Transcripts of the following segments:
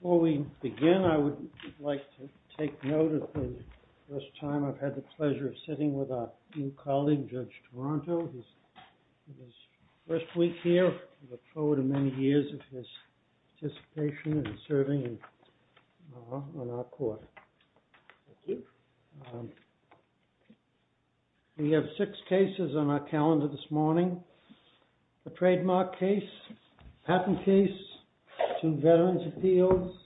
Before we begin, I would like to take note of the first time I've had the pleasure of sitting with our new colleague, Judge Toronto. It is his first week here. I look forward to many years of his participation and serving on our court. We have six cases on our calendar this morning. A trademark case, a patent case, two veterans appeals,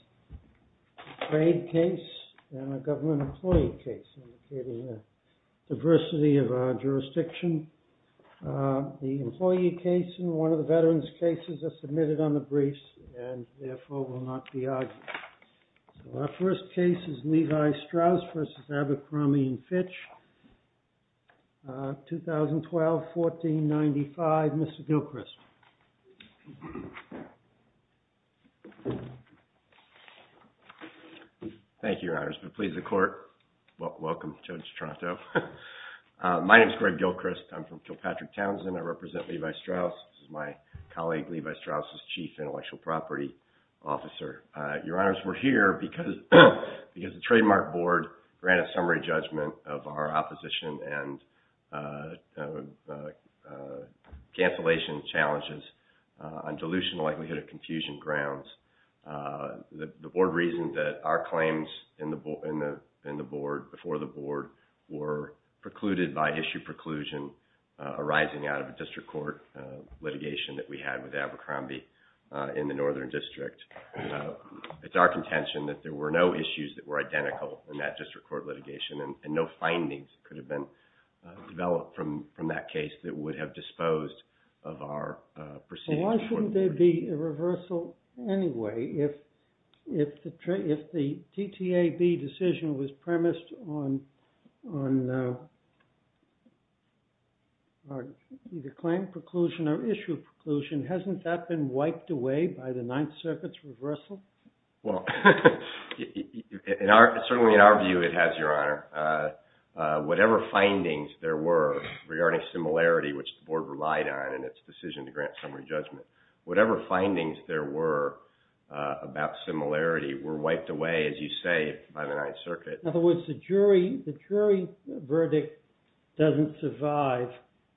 a trade case, and a government employee case, indicating the diversity of our jurisdiction. The employee case and one of the veterans cases are submitted on the briefs and therefore will not be argued. Our first case is Levi Strauss v. Abercrombie & Fitch, 2012, 1495. Mr. Gilchrist. Thank you, Your Honor. It's a pleasure to court. Welcome, Judge Toronto. My name is Greg Gilchrist. I'm from Kilpatrick-Townsend. I represent Levi Strauss. This is my colleague, Levi Strauss' chief intellectual property officer. Your Honors, we're here because the Trademark Board granted summary judgment of our opposition and cancellation challenges on dilution likelihood of confusion grounds. The Board reasoned that our claims before the Board were precluded by in the Northern District. It's our contention that there were no issues that were identical in that district court litigation and no findings could have been developed from that case that would have disposed of our proceedings. Why shouldn't there be a reversal anyway if the TTAB decision was premised on either claim preclusion or issue preclusion? Hasn't that been wiped away by the Ninth Circuit's reversal? Well, certainly in our view it has, Your Honor. Whatever findings there were regarding similarity, which the Board relied on in its decision to grant summary judgment, whatever findings there were about similarity were wiped away, as you say, by the Ninth Circuit. In other words, the jury verdict doesn't survive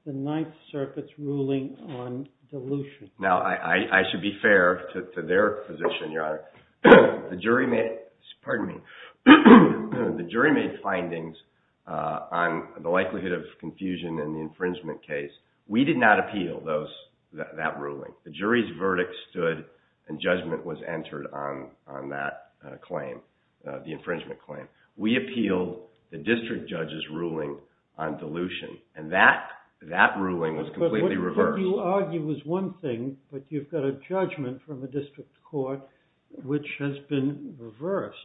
the Ninth Circuit's ruling on dilution. Now, I should be fair to their position, Your Honor. The jury made findings on the likelihood of confusion in the infringement case. We did not appeal that ruling. The jury's infringement claim. We appealed the district judge's ruling on dilution, and that ruling was completely reversed. But what you argue is one thing, but you've got a judgment from the district court which has been reversed,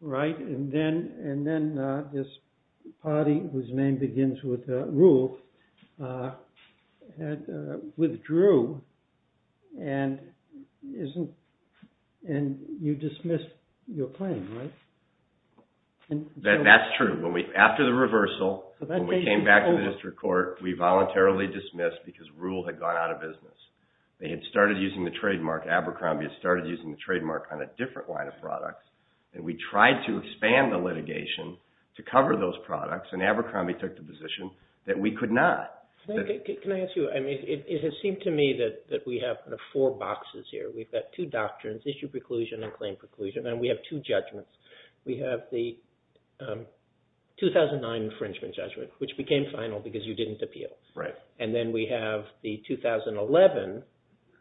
right? And then this party, whose name begins with rule, withdrew, and you dismissed your claim, right? That's true. After the reversal, when we came back to the district court, we voluntarily dismissed because rule had gone out of business. They had started using the trademark. Abercrombie had started using the trademark on a different line of products, and we tried to expand the litigation to cover those products, and Abercrombie took the position that we could not. Can I ask you, I mean, it has seemed to me that we have the four boxes here. We've got two doctrines, issue preclusion and claim preclusion, and we have two judgments. We have the 2009 infringement judgment, which became final because you didn't appeal. Right. And then we have the 2011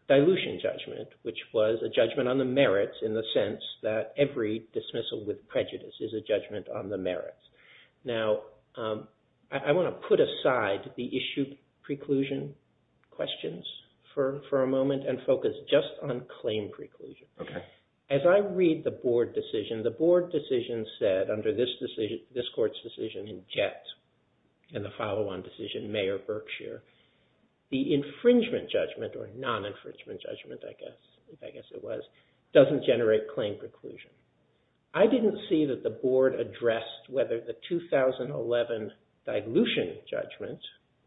dilution judgment, which was a judgment on the merits in the sense that every dismissal with prejudice is a judgment on the merits. Now, I want to put aside the issue preclusion questions for a moment and focus just on claim preclusion. Okay. As I read the board decision, the board decision said under this court's decision in Jett and the follow-on decision, Mayor Berkshire, the infringement judgment, or non-infringement judgment, I guess it was, doesn't generate claim preclusion. I didn't see that the board addressed whether the 2011 dilution judgment,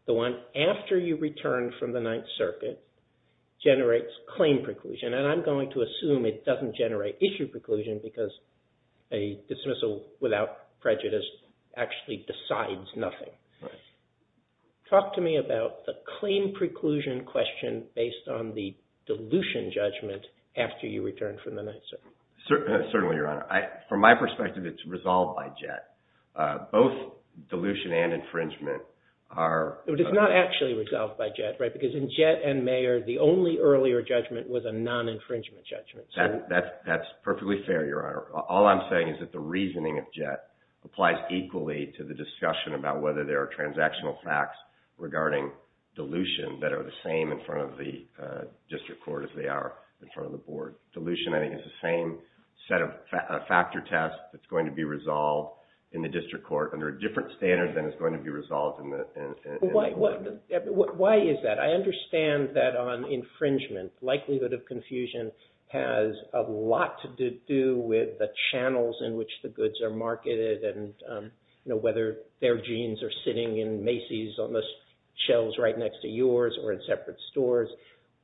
the one after you return from the Ninth Circuit, generates claim preclusion, and I'm going to assume it doesn't generate issue preclusion because a dismissal without prejudice actually decides nothing. Right. Talk to me about the claim preclusion question based on the dilution judgment after you return from the Ninth Circuit. Certainly, Your Honor. From my perspective, it's resolved by Jett. Both dilution and infringement are... It's not actually resolved by Jett, right, because in Jett and Mayor, the only earlier judgment was a non-infringement judgment. That's perfectly fair, Your Honor. All I'm saying is that the reasoning of Jett applies equally to the discussion about whether there are transactional facts regarding dilution that are the same in front of the district court as they are in front of the board. Dilution, I think, is the same set of factor tests that's going to be resolved in the district court under a different standard than is going to be resolved in the... Why is that? I understand that on infringement, likelihood of confusion has a lot to do with the channels in which the goods are marketed and, you know, whether their jeans are sitting in Macy's on the shelves right next to yours or in separate stores.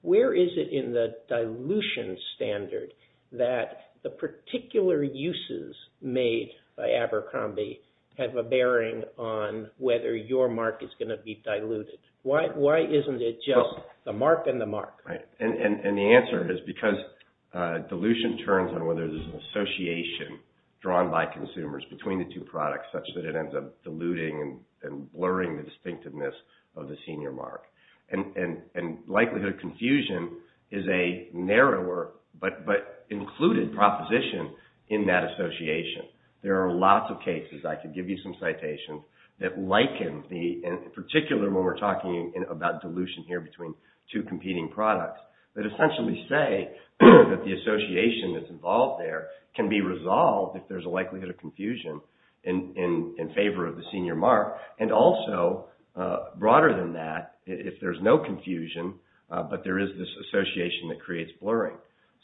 Where is it in the dilution standard that the particular uses made by Abercrombie have a bearing on whether your mark is going to be diluted? Why isn't it just the mark and the mark? Right. And the answer is because dilution turns on whether there's an association drawn by consumers between the two products such that it ends up diluting and blurring the distinctiveness of the senior mark. And likelihood of confusion is a narrower but included proposition in that association. There are lots of cases, I could give you some citations, that liken the, in particular when we're talking about dilution here between two competing products, that essentially say that the likelihood of confusion in favor of the senior mark. And also, broader than that, if there's no confusion, but there is this association that creates blurring.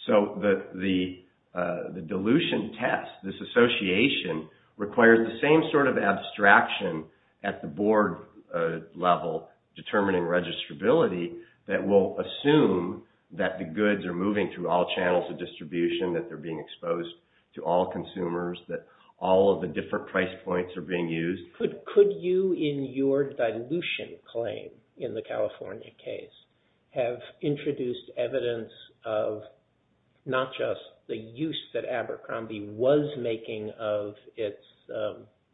So, the dilution test, this association requires the same sort of abstraction at the board level determining registrability that will assume that the goods are moving through all channels of distribution, that they're being used at all the different price points are being used. Could you, in your dilution claim in the California case, have introduced evidence of not just the use that Abercrombie was making of its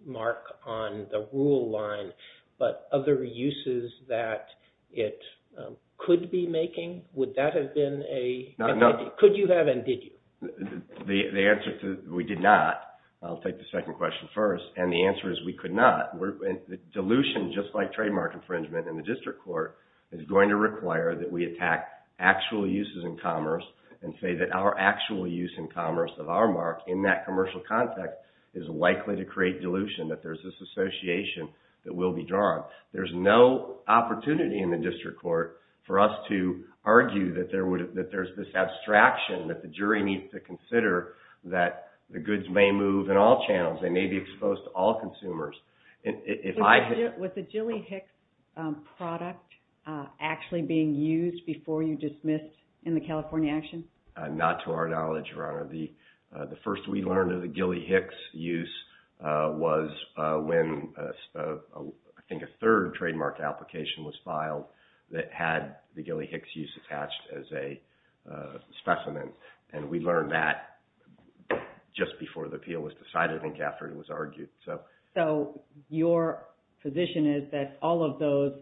mark on the rule line, but other uses that it could be making? Would that have been a... Could you have and did you? The answer to, we did not. I'll take the second question first. And the answer is we could not. Dilution, just like trademark infringement in the district court, is going to require that we attack actual uses in commerce and say that our actual use in commerce of our mark in that commercial context is likely to create dilution, that there's this association that will be drawn. There's no opportunity in the district court for us to argue that there's this abstraction that the jury needs to consider that the goods may move in all channels. They may be exposed to all consumers. Was the Gilly Hicks product actually being used before you dismissed in the California action? Not to our knowledge, Your Honor. The first we learned of the Gilly Hicks use was when, I think a third trademark application was filed that had the Gilly Hicks use attached as a specimen. And we learned that just before the appeal was decided and after it was argued. So your position is that all of those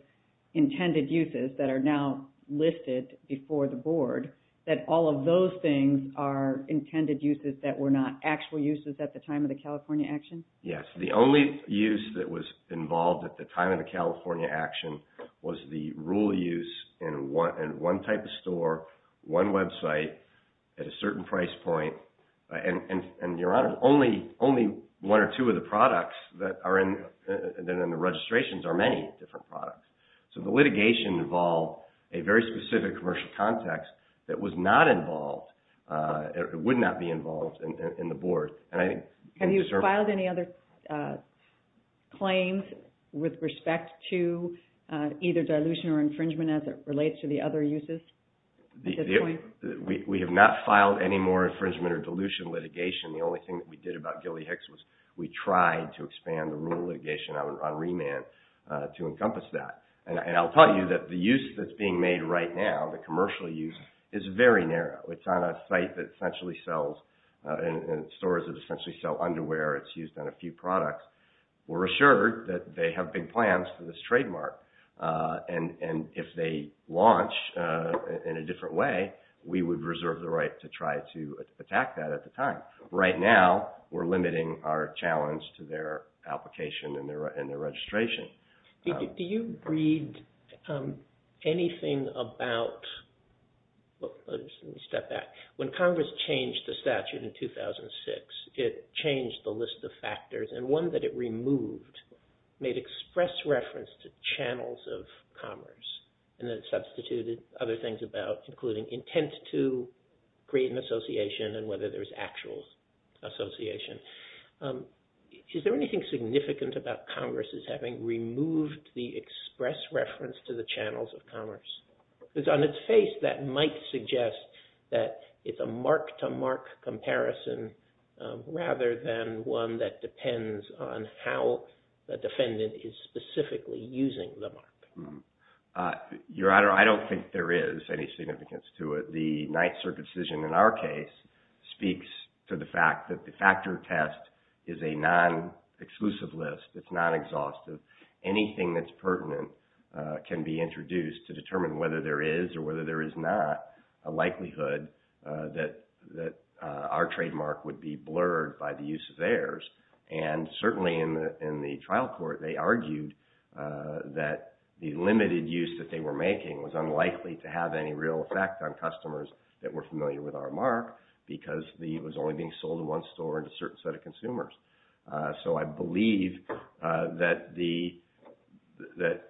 intended uses that are now listed before the board, that all of those things are intended uses that were not actual uses at the time of the California action? Yes. The only use that was involved at the time of the California action was the rule use in one type of store, one website, at a certain price point. And Your Honor, only one or two of the products that are in the registrations are many different products. So the litigation involved a very specific commercial context that was not involved, would not be involved in the board. Have you filed any other claims with respect to either dilution or infringement as it relates to the other uses? We have not filed any more infringement or dilution litigation. The only thing that we did about Gilly Hicks was we tried to expand the rule litigation on remand to encompass that. And I'll tell you that the use that's being made right now, the commercial use, is very narrow. It's on a site that essentially sells, and stores that essentially sell underwear. It's used on a few products. We're assured that they have big plans for this trademark. And if they launch in a different way, we would reserve the right to try to attack that at the time. Right now, we're limiting our challenge to their application and their registration. Do you read anything about... Let me step back. When Congress changed the statute in 2006, it changed the list of factors. And one that it removed made express reference to channels of commerce. And then substituted other things about, including intent to create an association and whether there's actual association. Is there anything significant about Congress's having removed the express reference to the channels of commerce? Because on its face, that might suggest that it's a mark-to-mark comparison rather than one that depends on how the defendant is specifically using the mark. Your Honor, I don't think there is any significance to it. The Ninth Circuit decision in our case speaks to the fact that the factor 10 test is a non-exclusive list. It's non-exhaustive. Anything that's pertinent can be introduced to determine whether there is or whether there is not a likelihood that our trademark would be blurred by the use of theirs. And certainly in the trial court, they argued that the limited use that they were So I believe that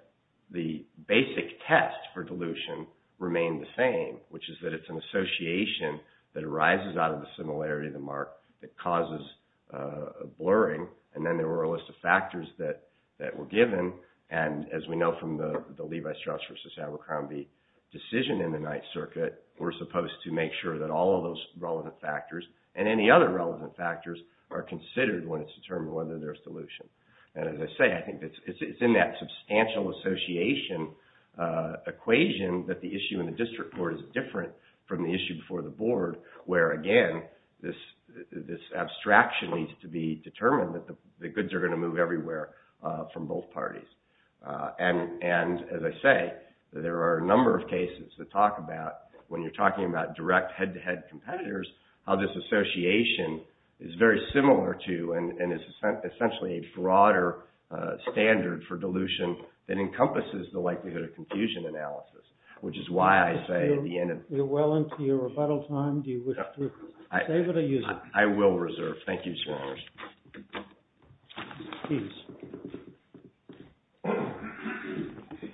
the basic test for dilution remained the same, which is that it's an association that arises out of the similarity of the mark that causes a blurring. And then there were a list of factors that were given. And as we know from the Levi Strauss v. Abercrombie decision in the Ninth Circuit, we're supposed to make sure that all of those relevant factors and any other relevant factors are considered when it's determined whether there's dilution. And as I say, I think it's in that substantial association equation that the issue in the district court is different from the issue before the board, where again, this abstraction needs to be determined that the goods are going to move everywhere from both parties. And as I say, there are a number of cases that talk about when you're talking about direct head-to-head competitors, how this association is very similar to and is essentially a broader standard for dilution that encompasses the likelihood of confusion analysis, which is why I say at the end of the day, You're well into your rebuttal time. Do you wish to save it or use it?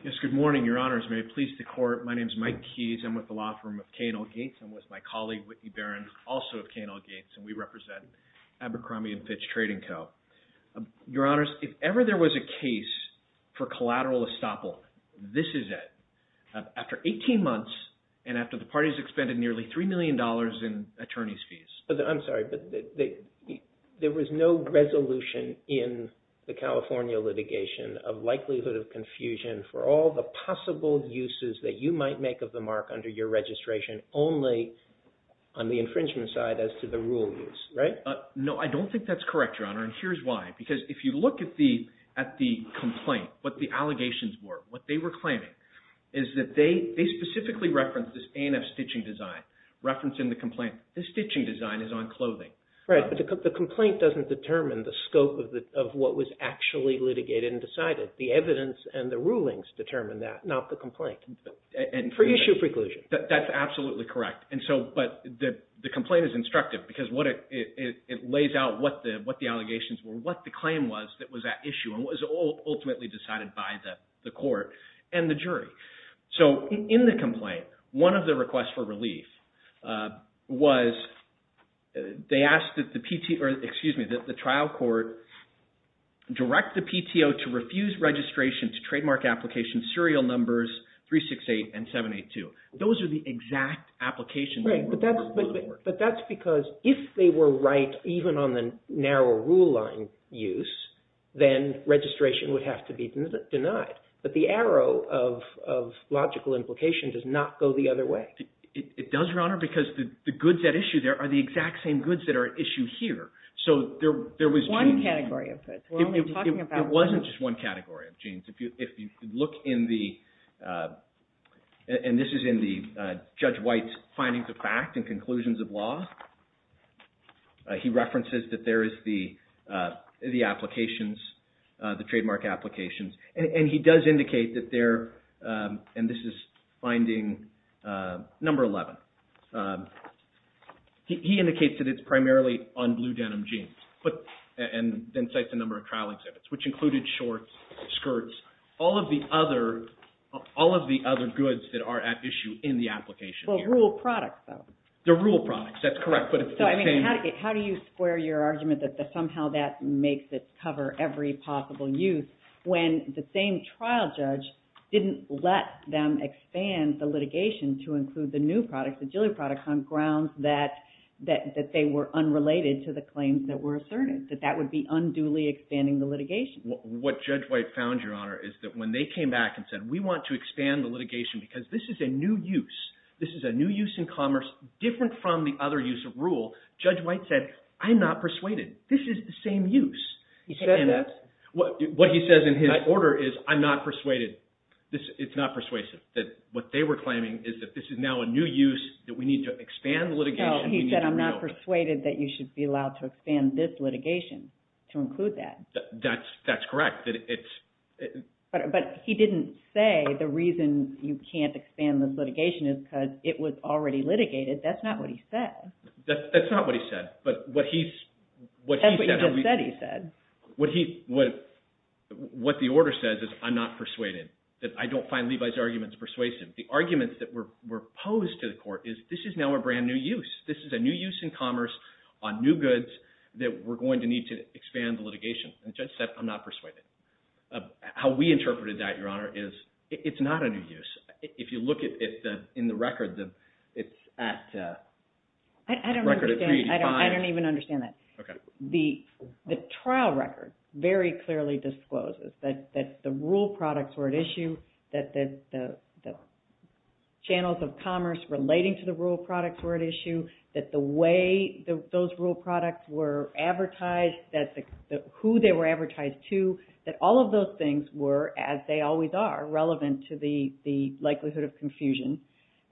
Yes, good morning, Your Honors. May it please the Court. My name is Mike Keyes. I'm with the law firm of K&L Gates. I'm with my colleague, Whitney Barron, also of K&L Gates, and we represent Abercrombie & Fitch Trading Co. Your Honors, if ever there was a case for collateral estoppel, this is it. After 18 months and after the parties expended nearly $3 million in attorney's fees. I'm sorry, but there was no resolution in the California litigation of likelihood of confusion for all the possible uses that you might make of the mark under your registration, only on the infringement side as to the rule use, right? No, I don't think that's correct, Your Honor, and here's why. Because if you look at the complaint, what the allegations were, what they were claiming, is that they specifically referenced this A&F stitching design, referencing the complaint. The stitching design is on clothing. Right, but the complaint doesn't determine the scope of what was actually litigated and decided. The evidence and the rulings determine that, not the complaint, for issue preclusion. That's absolutely correct, but the complaint is instructive because it lays out what the allegations were, what the claim was that was at issue, and what was ultimately decided by the court and the jury. So, in the complaint, one of the requests for relief was, they asked that the trial court direct the PTO to refuse registration to trademark application serial numbers 368 and 782. Those are the exact applications. Right, but that's because if they were right even on the narrow rule line use, then registration would have to be denied. But the arrow of logical implication does not go the other way. It does, Your Honor, because the goods at issue there are the exact same goods that are at issue here. So, there was... One category of goods. We're only talking about... It wasn't just one category of genes. If you look in the, and this is in the Judge White's findings of fact and conclusions of law, he references that there is the applications, the trademark applications. And he does indicate that there, and this is finding number 11, he indicates that it's primarily on blue denim jeans, and then cites a number of trial exhibits, which included shorts, skirts, all of the other goods that are at issue in the application here. Well, rural products, though. They're rural products, that's correct, but it's the same... How do you square your argument that somehow that makes it cover every possible use when the same trial judge didn't let them expand the litigation to include the new products, the GILI products, on grounds that they were unrelated to the claims that were asserted, that that would be unduly expanding the litigation? What Judge White found, Your Honor, is that when they came back and said, we want to expand the litigation because this is a new use. This is a new use in commerce, different from the other use of rule. Judge White said, I'm not persuaded. This is the same use. He said that? What he says in his order is, I'm not persuaded. It's not persuasive, that what they were claiming is that this is now a new use, that we need to expand the litigation. He said, I'm not persuaded that you should be allowed to expand this litigation to include that. That's correct. But he didn't say the reason you can't expand this litigation is because it was already litigated. That's not what he said. That's not what he said. That's what he just said he said. What the order says is, I'm not persuaded, that I don't find Levi's arguments persuasive. The arguments that were posed to the court is, this is now a brand new use. This is a new use in commerce on new goods that we're going to need to expand the litigation. And the judge said, I'm not persuaded. How we interpreted that, Your Honor, is it's not a new use. If you look in the record, it's at a record of 385. I don't even understand that. The trial record very clearly discloses that the rural products were at issue, that the channels of commerce relating to the rural products were at issue, that the way those rural products were advertised, who they were advertised to, that all of those things were, as they always are, relevant to the likelihood of confusion.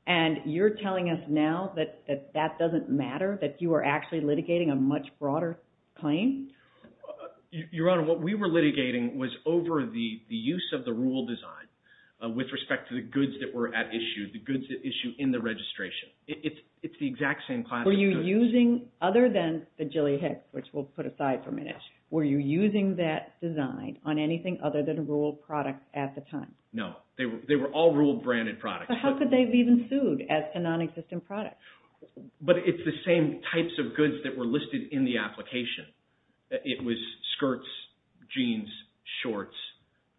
And you're telling us now that that doesn't matter, that you are actually litigating a much broader claim? Your Honor, what we were litigating was over the use of the rural design with respect to the goods that were at issue, the goods at issue in the registration. It's the exact same class of goods. Were you using, other than the Jilly Hicks, which we'll put aside for a minute, were you using that design on anything other than rural products at the time? No. They were all rural branded products. So how could they have even sued as to non-existent products? But it's the same types of goods that were listed in the application. It was skirts, jeans, shorts,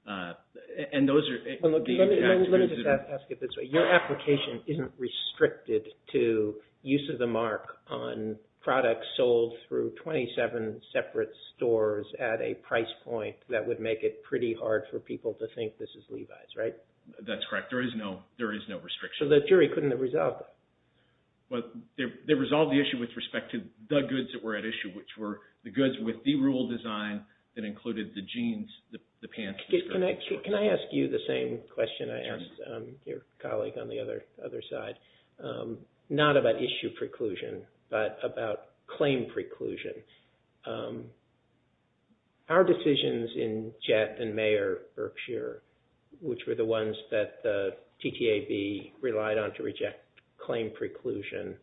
and those are the exact goods that are... Let me just ask it this way. Your application isn't restricted to use of the mark on products sold through 27 separate stores at a price point that would make it pretty hard for people to think this is Levi's, right? That's correct. There is no restriction. So the jury couldn't have resolved it? Well, they resolved the issue with respect to the goods that were at issue, which were the goods with the rural design that included the jeans, the pants... Can I ask you the same question I asked your colleague on the other side? Not about issue preclusion, but about claim preclusion. Our decisions in Jett and Mayer Berkshire, which were the ones that the TTAB relied on to reject claim preclusion,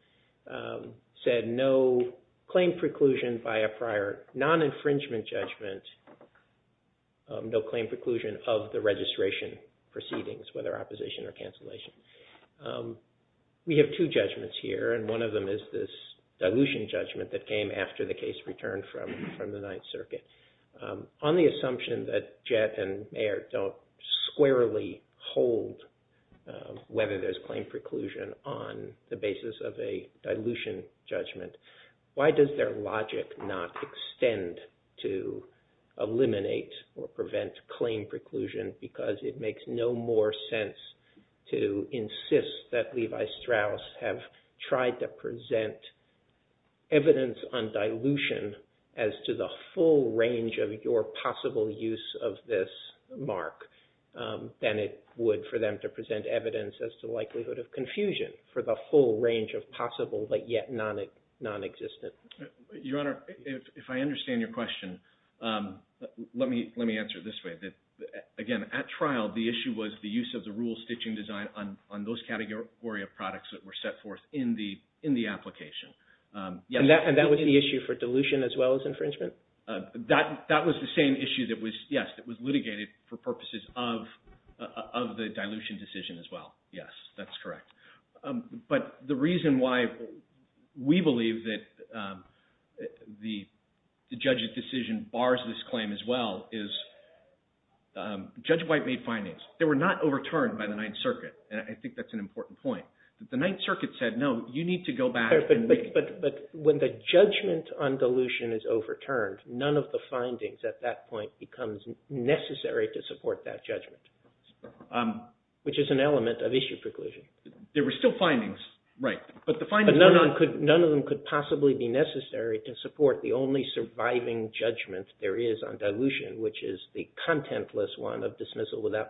said no claim preclusion by a prior non-infringement judgment. No claim preclusion of the registration proceedings, whether opposition or cancellation. We have two judgments here, and one of them is this dilution judgment that came after the case returned from the Ninth Circuit. On the assumption that Jett and Mayer don't squarely hold whether there's claim preclusion on the basis of a dilution judgment, why does their logic not extend to eliminate or prevent claim preclusion? Because it makes no more sense to insist that Levi Strauss have tried to present evidence on dilution as to the full range of your possible use of this mark than it would for them to present evidence as to the likelihood of confusion for the full range of possible, but yet non-existent. Your Honor, if I understand your question, let me answer it this way. Again, at trial, the issue was the use of the rural stitching design on those category of products that were set forth in the application. And that was the issue for dilution as well as infringement? That was the same issue that was, yes, that was litigated for purposes of the dilution decision as well. Yes, that's correct. But the reason why we believe that the judge's decision bars this claim as well is Judge White made findings. They were not overturned by the Ninth Circuit, and I think that's an important point. The Ninth Circuit said, no, you need to go back. But when the judgment on dilution is overturned, none of the findings at that point becomes necessary to support that judgment, which is an element of issue preclusion. There were still findings, right. But none of them could possibly be necessary to support the only surviving judgment there is on dilution, which is the contentless one of dismissal without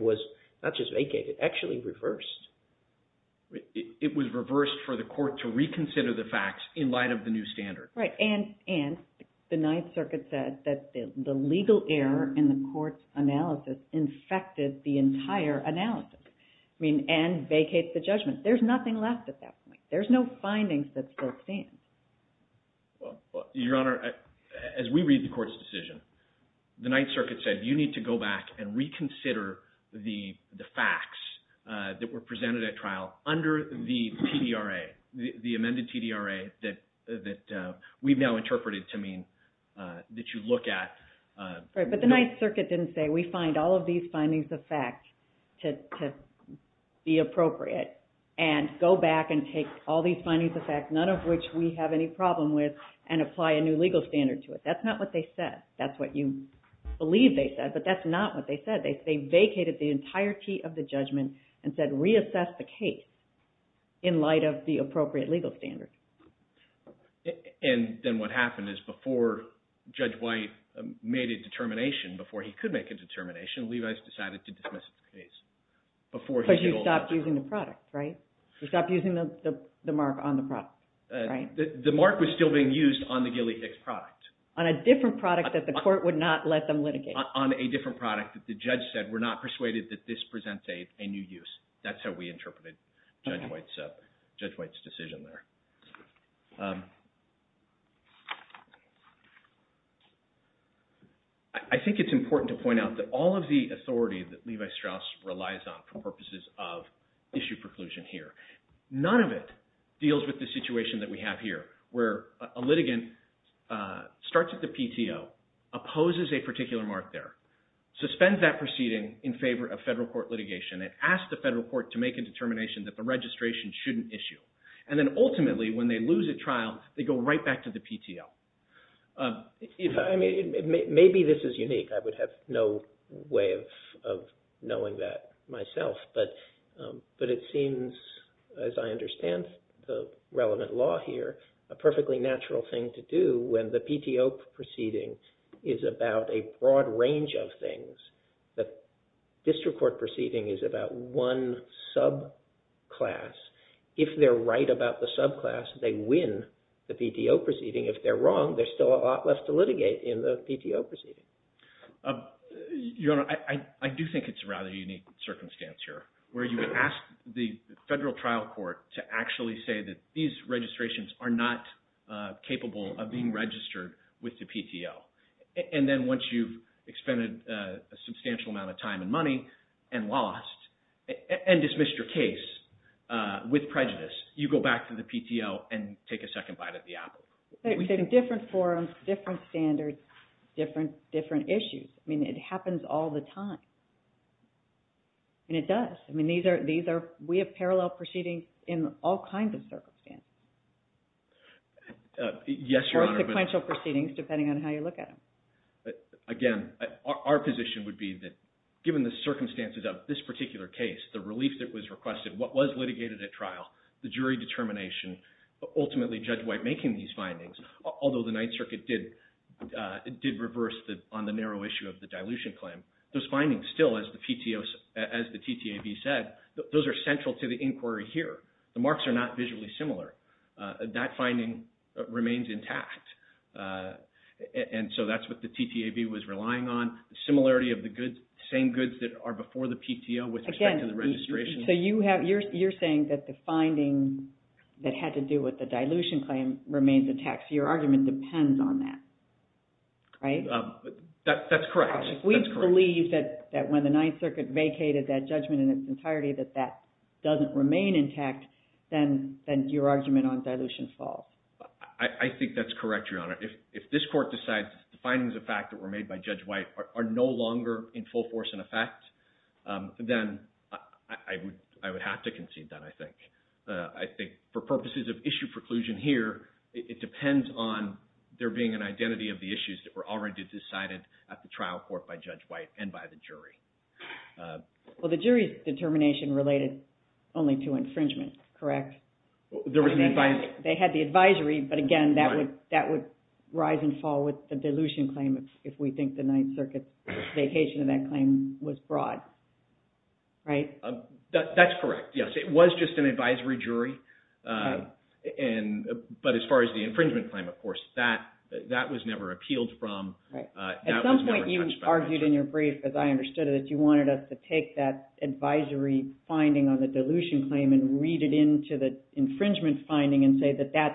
was not just vacated, actually reversed. It was reversed for the court to reconsider the facts in light of the new standard. Right. And the Ninth Circuit said that the legal error in the court's analysis infected the entire analysis and vacates the judgment. There's nothing left at that point. There's no findings that still stand. Your Honor, as we read the court's decision, the Ninth Circuit said, you need to go back and reconsider the facts that were presented at trial under the TDRA, the amended TDRA that we've now interpreted to mean that you look at. Right. But the Ninth Circuit didn't say, we find all of these findings of fact to be appropriate and go back and take all these findings of fact, none of which we have any problem with, and apply a new legal standard to it. That's not what they said. That's what you believe they said, but that's not what they said. They vacated the entirety of the judgment and said, reassess the case in light of the appropriate legal standard. And then what happened is before Judge White made a determination, before he could make a determination, Levi's decided to dismiss the case. Because you stopped using the product, right? You stopped using the mark on the product. Right. The mark was still being used on the different product that the court would not let them litigate. On a different product that the judge said, we're not persuaded that this presents a new use. That's how we interpreted Judge White's decision there. I think it's important to point out that all of the authority that Levi Strauss relies on for purposes of issue preclusion here, none of it deals with the PTO, opposes a particular mark there, suspends that proceeding in favor of federal court litigation, and asks the federal court to make a determination that the registration shouldn't issue. And then ultimately, when they lose a trial, they go right back to the PTO. Maybe this is unique. I would have no way of knowing that myself. But it seems, as I understand the relevant law here, a perfectly natural thing to do when the PTO proceeding is about a broad range of things. The district court proceeding is about one subclass. If they're right about the subclass, they win the PTO proceeding. If they're wrong, there's still a lot left to litigate in the PTO proceeding. Your Honor, I do think it's a rather unique circumstance here, where you would ask the federal trial court to actually say that these registrations are not capable of being registered with the PTO. And then once you've expended a substantial amount of time and money, and lost, and dismissed your case with prejudice, you go back to the PTO and take a second bite at the apple. Different forums, different standards, different issues. I mean, it happens all the time. And it does. I mean, we have parallel proceedings in all kinds of circumstances. Yes, Your Honor. Or sequential proceedings, depending on how you look at them. Again, our position would be that given the circumstances of this particular case, the relief that was requested, what was litigated at trial, the jury determination, ultimately Judge White making these findings, although the Ninth Circuit did reverse on the PTO, as the TTAB said, those are central to the inquiry here. The marks are not visually similar. That finding remains intact. And so that's what the TTAB was relying on. Similarity of the goods, same goods that are before the PTO with respect to the registration. Again, so you're saying that the finding that had to do with the dilution claim remains intact. So your argument depends on that, right? That's correct. If we believe that when the Ninth Circuit vacated that judgment in its entirety, that that doesn't remain intact, then your argument on dilution falls. I think that's correct, Your Honor. If this Court decides the findings of fact that were made by Judge White are no longer in full force and effect, then I would have to concede that, I think. I think for purposes of issue preclusion here, it depends on there being an identity of issues that were already decided at the trial court by Judge White and by the jury. Well, the jury's determination related only to infringement, correct? They had the advisory, but again, that would rise and fall with the dilution claim if we think the Ninth Circuit's vacation of that claim was broad, right? That's correct, yes. It was just an advisory jury. But as far as the infringement claim, of course, that was never appealed from. Right. At some point, you argued in your brief, as I understood it, that you wanted us to take that advisory finding on the dilution claim and read it into the infringement finding and say that that's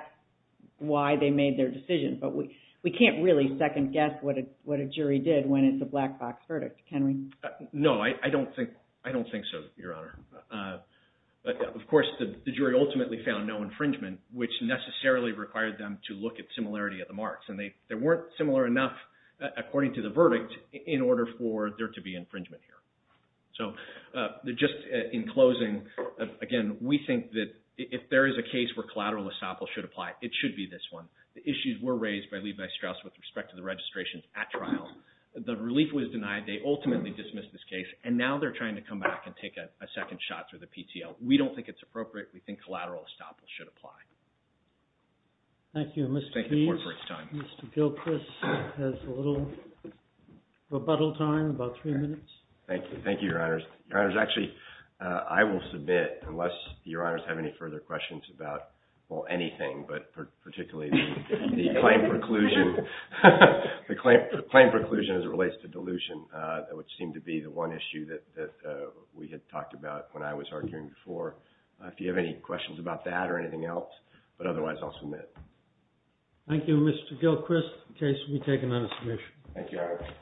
why they made their decision. But we can't really second guess what a jury did when it's a black box verdict, can we? No, I don't think so, Your Honor. But of course, the jury ultimately found no infringement, which necessarily required them to look at similarity of the marks. And they weren't similar enough, according to the verdict, in order for there to be infringement here. So just in closing, again, we think that if there is a case where collateral estoppel should apply, it should be this one. The issues were raised by Levi Strauss with respect to the registration at trial. The relief was denied. They ultimately dismissed this case. And now they're trying to come back and take a second shot through the PTL. We don't think it's appropriate. We think collateral estoppel should apply. Thank you, Mr. P. Mr. Gilchrist has a little rebuttal time, about three minutes. Thank you. Thank you, Your Honors. Your Honors, actually, I will submit, unless Your Honors have any further questions about, well, anything, but particularly the claim preclusion The claim preclusion as it relates to delusion, which seemed to be the one issue that we had talked about when I was arguing before. If you have any questions about that or anything else, but otherwise, I'll submit. Thank you, Mr. Gilchrist. The case will be taken on a submission. Thank you, Your Honors.